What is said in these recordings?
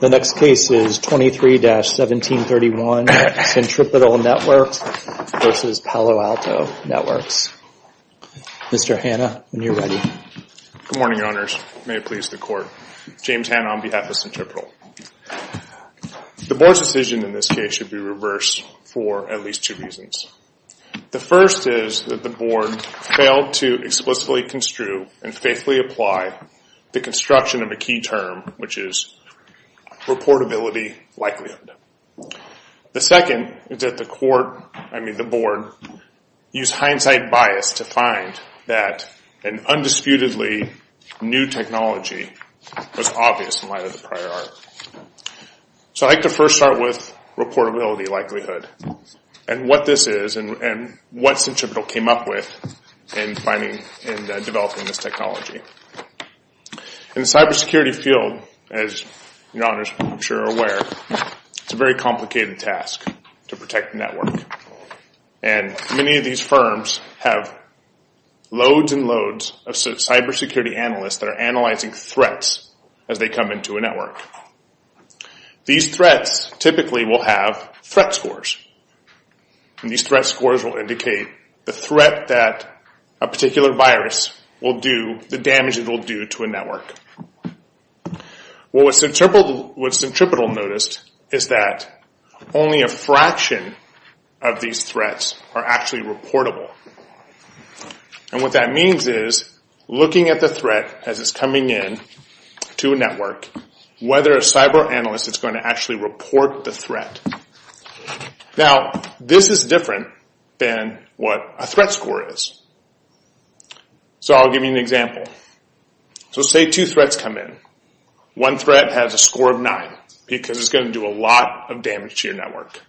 The next case is 23-1731, Centripetal Networks v. Palo Alto Networks. Mr. Hanna, when you're ready. Good morning, Your Honors. May it please the Court. James Hanna on behalf of Centripetal. The Board's decision in this case should be reversed for at least two reasons. The first is that the Board failed to explicitly construe and faithfully apply the construction of a key term, which is reportability likelihood. The second is that the Board used hindsight bias to find that an undisputedly new technology was obvious in light of the prior art. So I'd like to first start with reportability likelihood and what this is and what Centripetal came up with in finding and developing this technology. In the cybersecurity field, as Your Honors I'm sure are aware, it's a very complicated task to protect the network and many of these firms have loads and loads of cybersecurity analysts that are analyzing threats as they come into a network. These threats typically will have threat scores and these threat scores will indicate the threat that a particular virus will do, the damage it will do to a network. What Centripetal noticed is that only a fraction of these threats are actually reportable. And what that means is looking at the threat as it's coming in to a network, whether a cyber analyst is going to actually report the threat. Now this is different than what a threat score is. So I'll give you an example. So say two threats come in. One threat has a score of 9 because it's going to do a lot of damage to your network.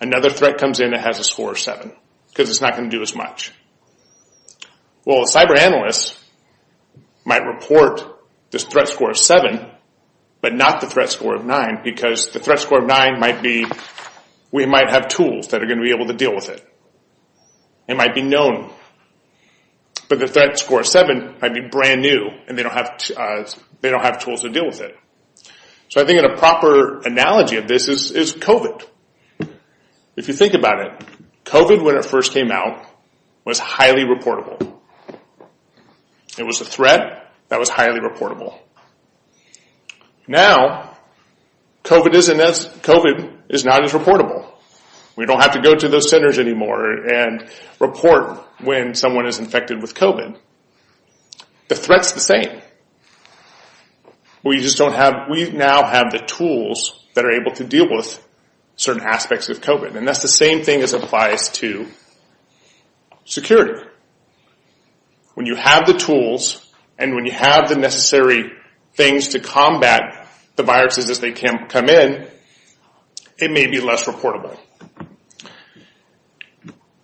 Another threat comes in that has a score of 7 because it's not going to do as much. Well a cyber analyst might report this threat score of 7 but not the threat score of 9 because the threat score of 9 might be, we might have tools that are going to be able to deal with it. It might be known. But the threat score of 7 might be brand new and they don't have tools to deal with it. So I think a proper analogy of this is COVID. If you think about it, COVID when it first came out was highly reportable. It was a threat that was highly reportable. Now COVID is not as reportable. We don't have to go to those centers anymore and report when someone is infected with COVID. The threat's the same. We just don't have, we now have the tools that are able to deal with certain aspects of COVID. And that's the same thing as applies to security. When you have the tools and when you have the necessary things to combat the viruses as they come in, it may be less reportable.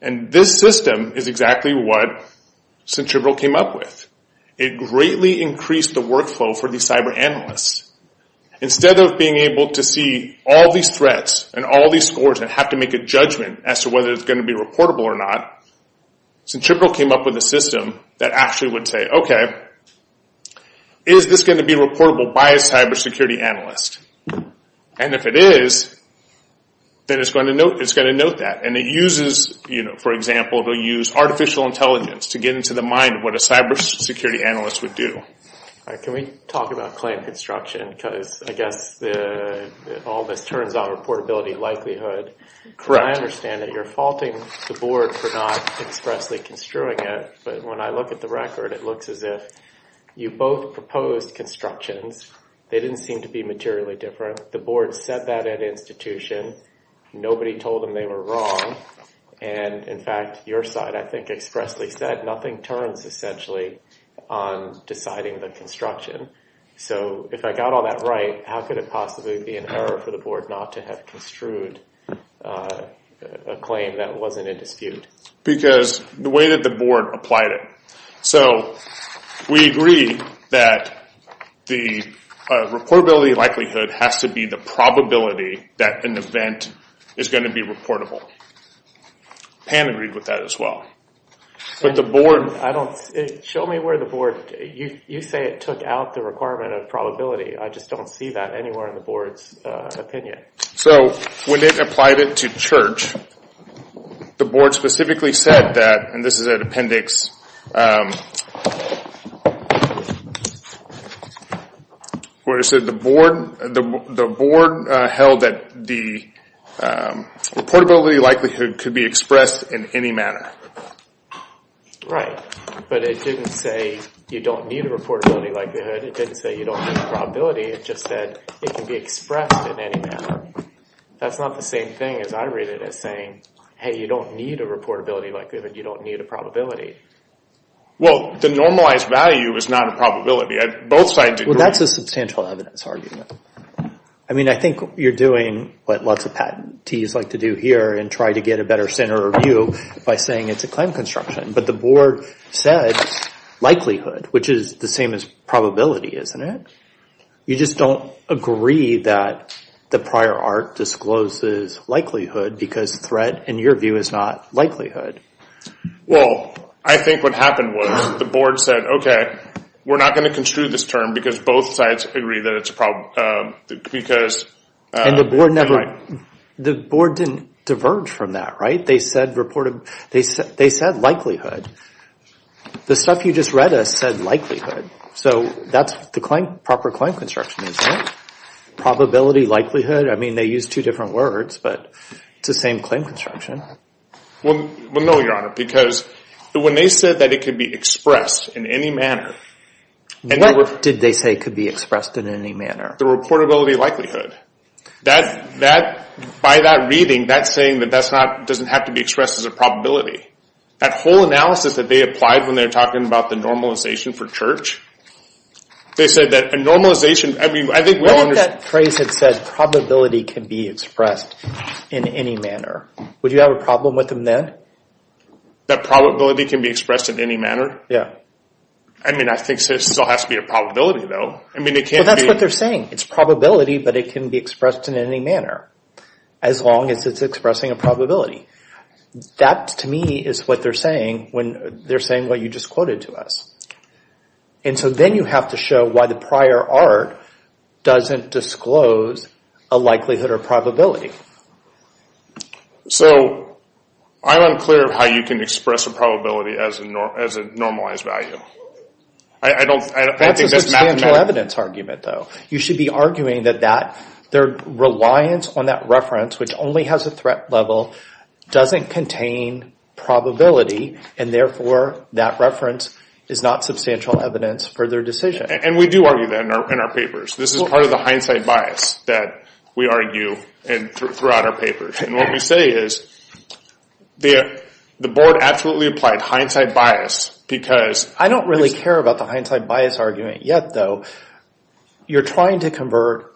And this system is exactly what Centripetal came up with. It greatly increased the workflow for these cyber analysts. Instead of being able to see all these threats and all these scores and have to make a judgment as to whether it's going to be reportable or not, Centripetal came up with a system that actually would say, okay, is this going to be reportable by a cyber security analyst? And if it is, then it's going to note that. And it uses, for example, it'll use artificial intelligence to get into the mind of what a cyber security analyst would do. Can we talk about claim construction? Because I guess all this turns on reportability likelihood. I understand that you're faulting the board for not expressly construing it. But when I look at the record, it looks as if you both proposed constructions. They didn't seem to be materially different. The board said that at institution. Nobody told them they were wrong. And in fact, your side, I think, expressly said nothing turns essentially on deciding the construction. So if I got all that right, how could it possibly be an error for the board not to have construed a claim that wasn't in dispute? Because the way that the board applied it. So we agree that the reportability likelihood has to be the probability that an event is going to be reportable. Pam agreed with that as well. But the board. I don't. Show me where the board. You say it took out the requirement of probability. I just don't see that anywhere in the board's opinion. So when they applied it to church. The board specifically said that. And this is an appendix. Where is it? The board. The board held that the reportability likelihood could be expressed in any manner. Right. But it didn't say you don't need a reportability likelihood. It didn't say you don't need probability. It just said it can be expressed in any manner. That's not the same thing as I read it as saying, hey, you don't need a reportability likelihood. You don't need a probability. Well, the normalized value is not a probability. Both sides agree. Well, that's a substantial evidence argument. I mean, I think you're doing what lots of patentees like to do here and try to get a better center of view by saying it's a claim construction. But the board said likelihood, which is the same as probability, isn't it? You just don't agree that the prior art discloses likelihood because threat, in your view, is not likelihood. Well, I think what happened was the board said, okay, we're not going to construe this term because both sides agree that it's a problem. And the board never. The board didn't diverge from that. Right. They said likelihood. The stuff you just read us said likelihood. So that's the proper claim construction, isn't it? Probability, likelihood. I mean, they use two different words, but it's the same claim construction. Well, no, Your Honor, because when they said that it could be expressed in any manner. What did they say could be expressed in any manner? The reportability likelihood. By that reading, that's saying that doesn't have to be expressed as a probability. That whole analysis that they applied when they were talking about the normalization for church, they said that a normalization, I mean, I think we all understand. What if that phrase had said probability can be expressed in any manner? Would you have a problem with them then? That probability can be expressed in any manner? Yeah. I mean, I think it still has to be a probability, though. That's what they're saying. It's probability, but it can be expressed in any manner as long as it's expressing a probability. That, to me, is what they're saying when they're saying what you just quoted to us. And so then you have to show why the prior art doesn't disclose a likelihood or probability. So I'm unclear how you can express a probability as a normalized value. That's a substantial evidence argument, though. You should be arguing that their reliance on that reference, which only has a threat level, doesn't contain probability, and therefore that reference is not substantial evidence for their decision. And we do argue that in our papers. This is part of the hindsight bias that we argue throughout our papers. And what we say is the board absolutely applied hindsight bias because— I don't really care about the hindsight bias argument yet, though. You're trying to convert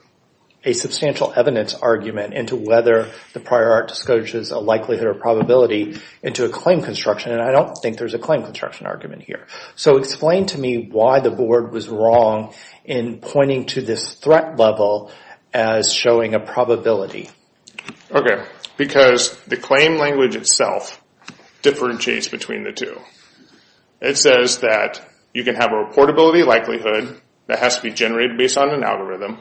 a substantial evidence argument into whether the prior art discloses a likelihood or probability into a claim construction, and I don't think there's a claim construction argument here. So explain to me why the board was wrong in pointing to this threat level as showing a probability. Okay, because the claim language itself differentiates between the two. It says that you can have a reportability likelihood that has to be generated based on an algorithm,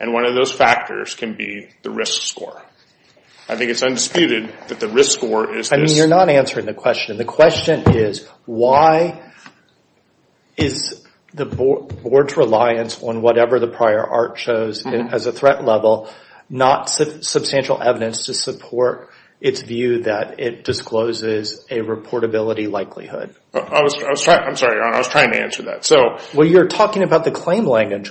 and one of those factors can be the risk score. I think it's undisputed that the risk score is this. I mean, you're not answering the question. The question is why is the board's reliance on whatever the prior art shows as a threat level not substantial evidence to support its view that it discloses a reportability likelihood? I'm sorry, I was trying to answer that. Well, you're talking about the claim language.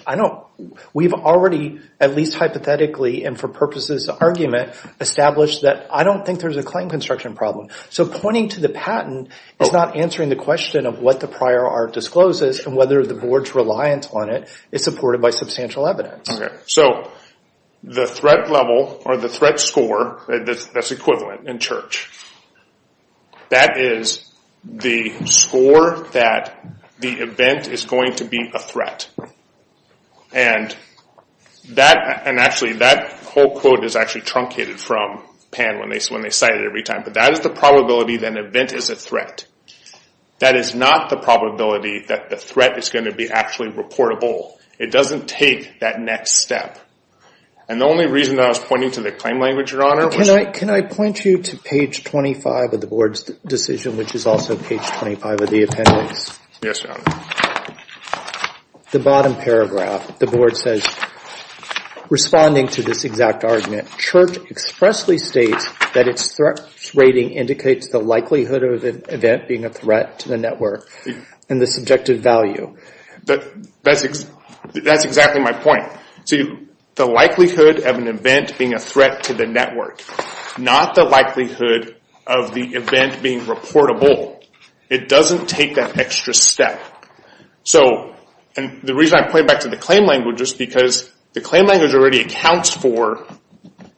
We've already, at least hypothetically and for purposes of argument, established that I don't think there's a claim construction problem. So pointing to the patent is not answering the question of what the prior art discloses and whether the board's reliance on it is supported by substantial evidence. Okay, so the threat level or the threat score that's equivalent in church, that is the score that the event is going to be a threat. And actually that whole quote is actually truncated from Pan when they cite it every time. But that is the probability that an event is a threat. That is not the probability that the threat is going to be actually reportable. It doesn't take that next step. And the only reason that I was pointing to the claim language, Your Honor, was to Can I point you to page 25 of the board's decision, which is also page 25 of the appendix? Yes, Your Honor. The bottom paragraph, the board says, responding to this exact argument, church expressly states that its threat rating indicates the likelihood of an event being a threat to the network and the subjective value. That's exactly my point. So the likelihood of an event being a threat to the network, not the likelihood of the event being reportable. It doesn't take that extra step. And the reason I'm pointing back to the claim language is because the claim language already accounts for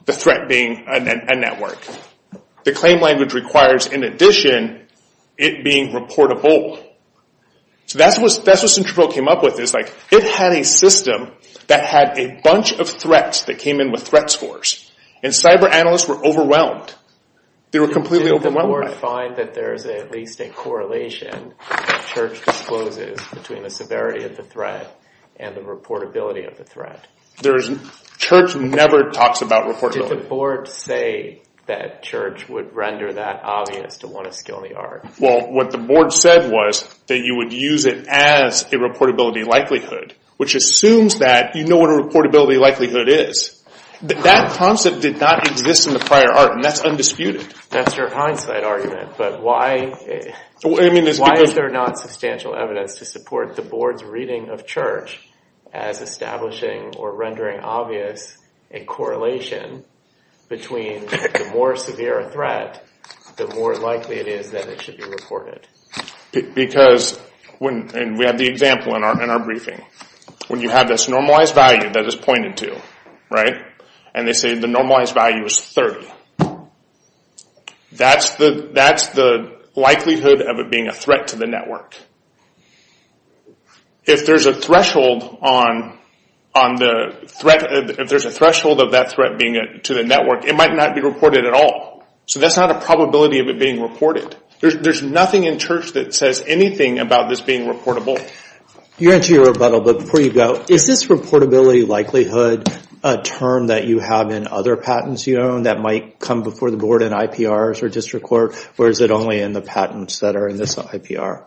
the threat being a network. The claim language requires, in addition, it being reportable. So that's what Centropo came up with. It had a system that had a bunch of threats that came in with threat scores. And cyber analysts were overwhelmed. They were completely overwhelmed. Did the board find that there is at least a correlation that church discloses between the severity of the threat and the reportability of the threat? Church never talks about reportability. Did the board say that church would render that obvious to want to steal the art? Well, what the board said was that you would use it as a reportability likelihood, which assumes that you know what a reportability likelihood is. That concept did not exist in the prior art, and that's undisputed. That's your hindsight argument, but why is there not substantial evidence to support the board's reading of church as establishing or rendering obvious a correlation between the more severe a threat, the more likely it is that it should be reported? Because, and we have the example in our briefing, when you have this normalized value that is pointed to, and they say the normalized value is 30, that's the likelihood of it being a threat to the network. If there's a threshold of that threat being to the network, it might not be reported at all. So that's not a probability of it being reported. There's nothing in church that says anything about this being reportable. You answer your rebuttal, but before you go, is this reportability likelihood a term that you have in other patents you own that might come before the board in IPRs or district court, or is it only in the patents that are in this IPR,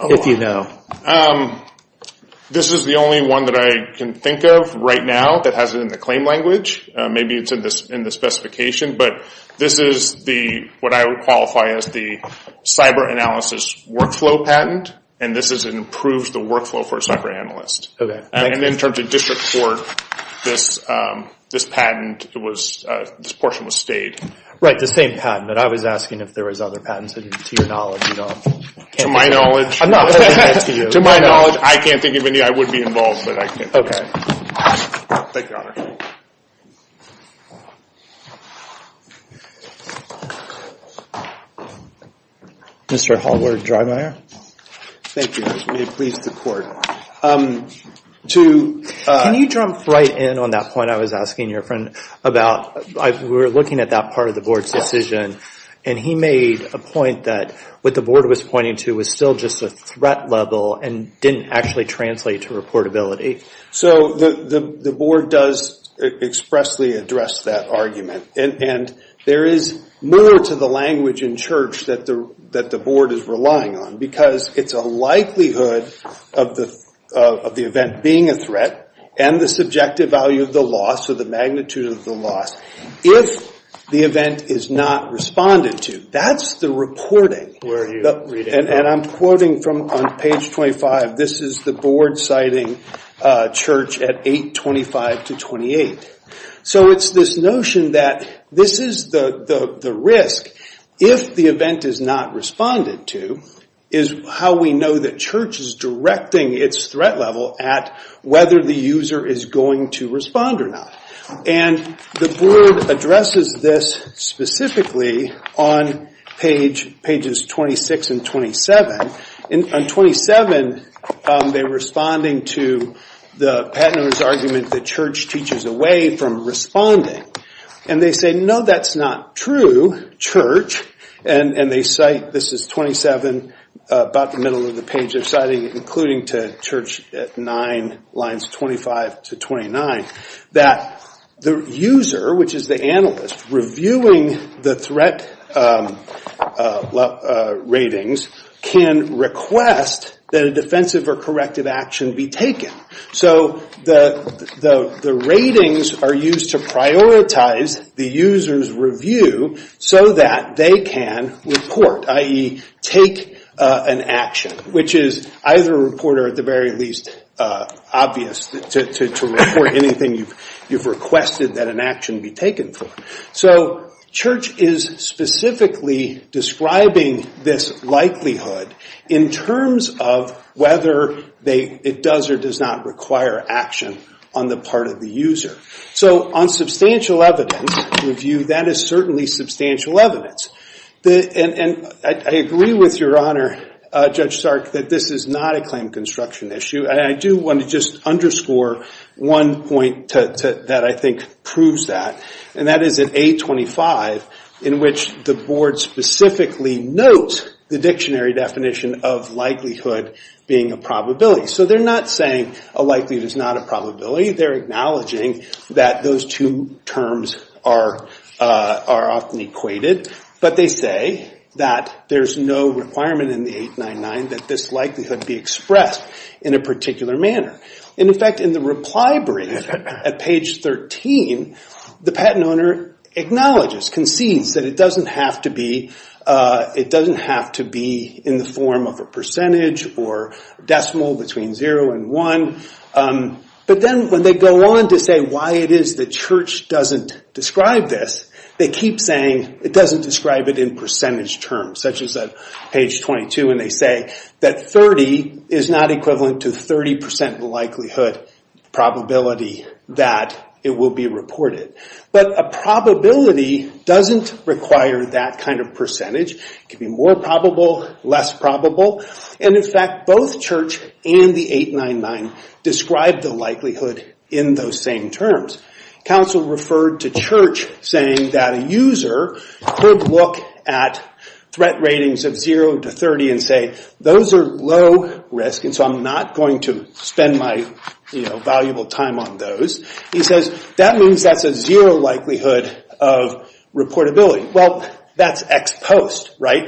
if you know? This is the only one that I can think of right now that has it in the claim language. Maybe it's in the specification, but this is what I would qualify as the cyber analysis workflow patent, and this is an improved workflow for a cyber analyst. And in terms of district court, this patent, this portion was stayed. Right, the same patent, but I was asking if there was other patents, and to your knowledge, you don't. To my knowledge, I can't think of any. I would be involved, but I can't think of any. Okay. Thank you, Your Honor. Mr. Hallward-Drymeier. Thank you, Your Honor. May it please the court. Can you jump right in on that point I was asking your friend about? We were looking at that part of the board's decision, and he made a point that what the board was pointing to was still just a threat level and didn't actually translate to reportability. So the board does expressly address that argument, and there is more to the language in church that the board is relying on because it's a likelihood of the event being a threat and the subjective value of the loss or the magnitude of the loss. If the event is not responded to, that's the reporting. And I'm quoting from page 25. This is the board citing church at 825 to 28. So it's this notion that this is the risk. If the event is not responded to is how we know that church is directing its threat level at whether the user is going to respond or not. And the board addresses this specifically on pages 26 and 27. On 27, they're responding to the patent owner's argument that church teaches away from responding. And they say, no, that's not true, church. And they cite, this is 27, about the middle of the page, they're citing including to church at 9, lines 25 to 29, that the user, which is the analyst, reviewing the threat ratings, can request that a defensive or corrective action be taken. So the ratings are used to prioritize the user's review so that they can report, i.e., take an action, which is either a report or, at the very least, obvious to report anything you've requested that an action be taken for. So church is specifically describing this likelihood in terms of whether it does or does not require action on the part of the user. So on substantial evidence review, that is certainly substantial evidence. And I agree with Your Honor, Judge Stark, that this is not a claim construction issue. And I do want to just underscore one point that I think proves that. And that is at 825, in which the board specifically notes the dictionary definition of likelihood being a probability. So they're not saying a likelihood is not a probability. They're acknowledging that those two terms are often equated. But they say that there's no requirement in the 899 that this likelihood be expressed in a particular manner. And, in fact, in the reply brief at page 13, the patent owner acknowledges, concedes, that it doesn't have to be in the form of a percentage or decimal between 0 and 1. But then when they go on to say why it is the church doesn't describe this, they keep saying it doesn't describe it in percentage terms, such as at page 22. And they say that 30 is not equivalent to 30 percent likelihood probability that it will be reported. But a probability doesn't require that kind of percentage. It can be more probable, less probable. And, in fact, both church and the 899 describe the likelihood in those same terms. Counsel referred to church saying that a user could look at threat ratings of 0 to 30 and say those are low risk, and so I'm not going to spend my valuable time on those. He says that means that's a zero likelihood of reportability. Well, that's ex post, right?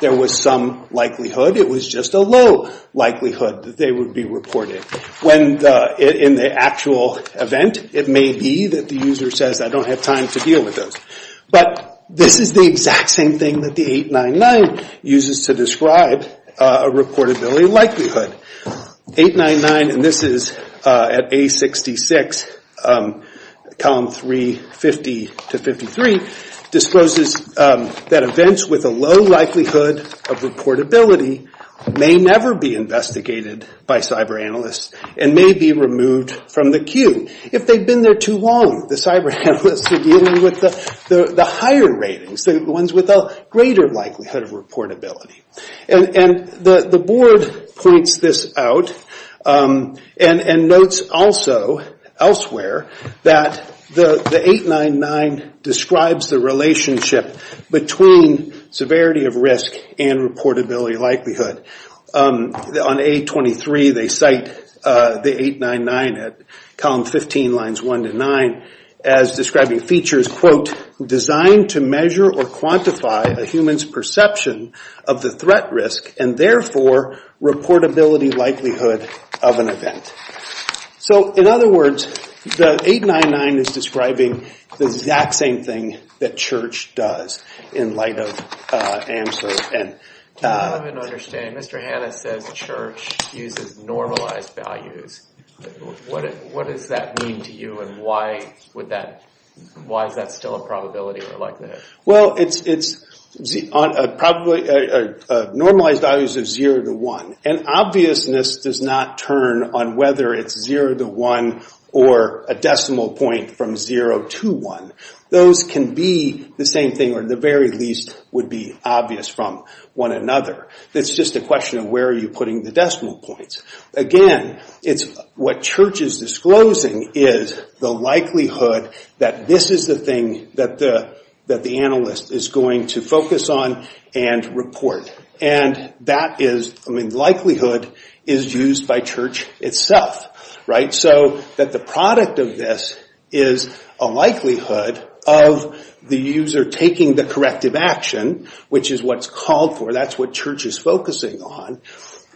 There was some likelihood. It was just a low likelihood that they would be reported. In the actual event, it may be that the user says I don't have time to deal with those. But this is the exact same thing that the 899 uses to describe a reportability likelihood. 899, and this is at A66, column 350 to 53, discloses that events with a low likelihood of reportability may never be investigated by cyber analysts and may be removed from the queue. If they've been there too long, the cyber analysts are dealing with the higher ratings, the ones with a greater likelihood of reportability. And the board points this out and notes also elsewhere that the 899 describes the relationship between severity of risk and reportability likelihood. On A23, they cite the 899 at column 15, lines 1 to 9, as describing features, quote, designed to measure or quantify a human's perception of the threat risk and therefore reportability likelihood of an event. So in other words, the 899 is describing the exact same thing that Church does in light of AMSR. I don't understand. Mr. Hanna says Church uses normalized values. What does that mean to you, and why is that still a probability? Well, normalized values are 0 to 1. And obviousness does not turn on whether it's 0 to 1 or a decimal point from 0 to 1. Those can be the same thing or at the very least would be obvious from one another. It's just a question of where are you putting the decimal points. Again, what Church is disclosing is the likelihood that this is the thing that the analyst is going to focus on and report. And that is, I mean, likelihood is used by Church itself, right? And so that the product of this is a likelihood of the user taking the corrective action, which is what's called for, that's what Church is focusing on,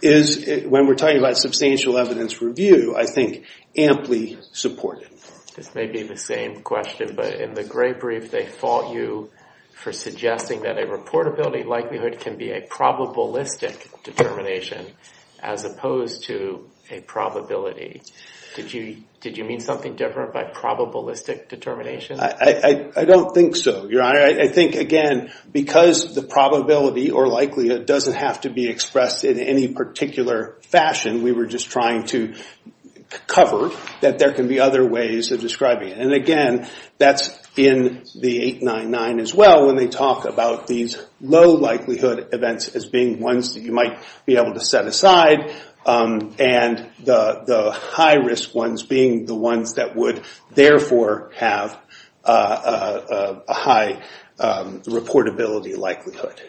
is when we're talking about substantial evidence review, I think, amply supported. This may be the same question, but in the Gray Brief they fault you for suggesting that a reportability likelihood can be a probabilistic determination as opposed to a probability. Did you mean something different by probabilistic determination? I don't think so, Your Honor. I think, again, because the probability or likelihood doesn't have to be expressed in any particular fashion, we were just trying to cover that there can be other ways of describing it. And again, that's in the 899 as well when they talk about these low likelihood events as being ones that you might be able to set aside and the high risk ones being the ones that would therefore have a high reportability likelihood.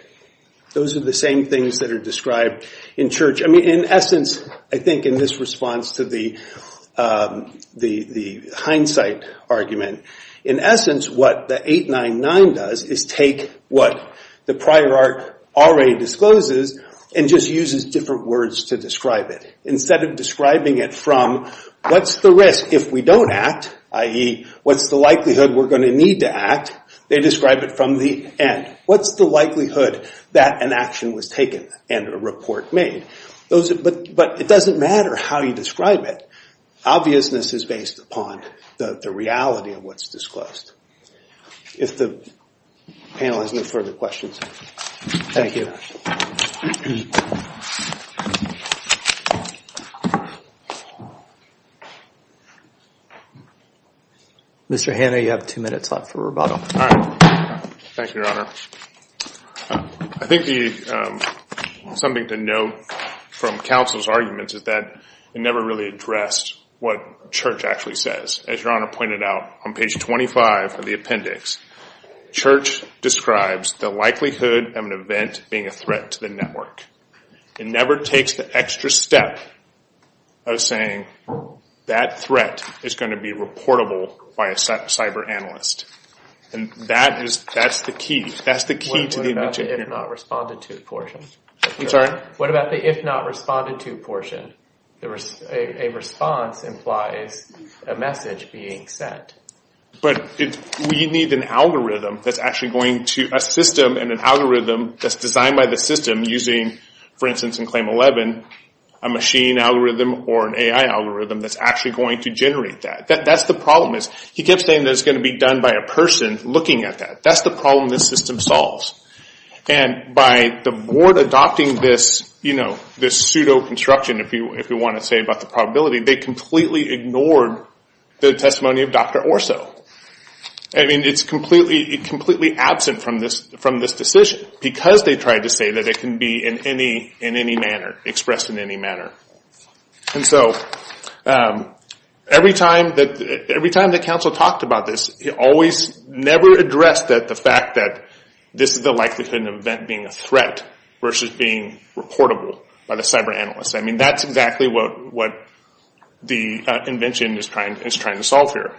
Those are the same things that are described in Church. I think in this response to the hindsight argument, in essence what the 899 does is take what the prior art already discloses and just uses different words to describe it. Instead of describing it from what's the risk if we don't act, i.e., what's the likelihood we're going to need to act, they describe it from the end. What's the likelihood that an action was taken and a report made? But it doesn't matter how you describe it. Obviousness is based upon the reality of what's disclosed. If the panel has no further questions, thank you. Mr. Hanna, you have two minutes left for rebuttal. Thank you, Your Honor. I think something to note from counsel's arguments is that it never really addressed what Church actually says. As Your Honor pointed out on page 25 of the appendix, Church describes the likelihood of an event being a threat to the network. It never takes the extra step of saying that threat is going to be reportable by a cyberanalyst. That's the key to the invention. What about the if-not-responded-to portion? I'm sorry? What about the if-not-responded-to portion? A response implies a message being sent. But we need an algorithm that's designed by the system using, for instance in Claim 11, a machine algorithm or an AI algorithm that's actually going to generate that. That's the problem. He kept saying that it's going to be done by a person looking at that. That's the problem this system solves. By the board adopting this pseudo-construction, if you want to say, about the probability, they completely ignored the testimony of Dr. Orso. It's completely absent from this decision because they tried to say that it can be expressed in any manner. Every time that counsel talked about this, he always never addressed the fact that this is the likelihood of an event being a threat versus being reportable by the cyberanalyst. That's exactly what the invention is trying to solve here.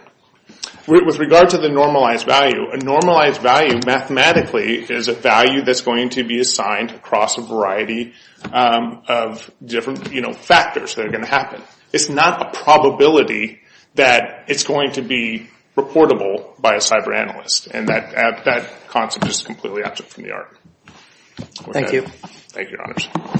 With regard to the normalized value, a normalized value mathematically is a value that's going to be assigned across a variety of different factors that are going to happen. It's not a probability that it's going to be reportable by a cyberanalyst. That concept is completely absent from the argument. Thank you. Thank you, Your Honors.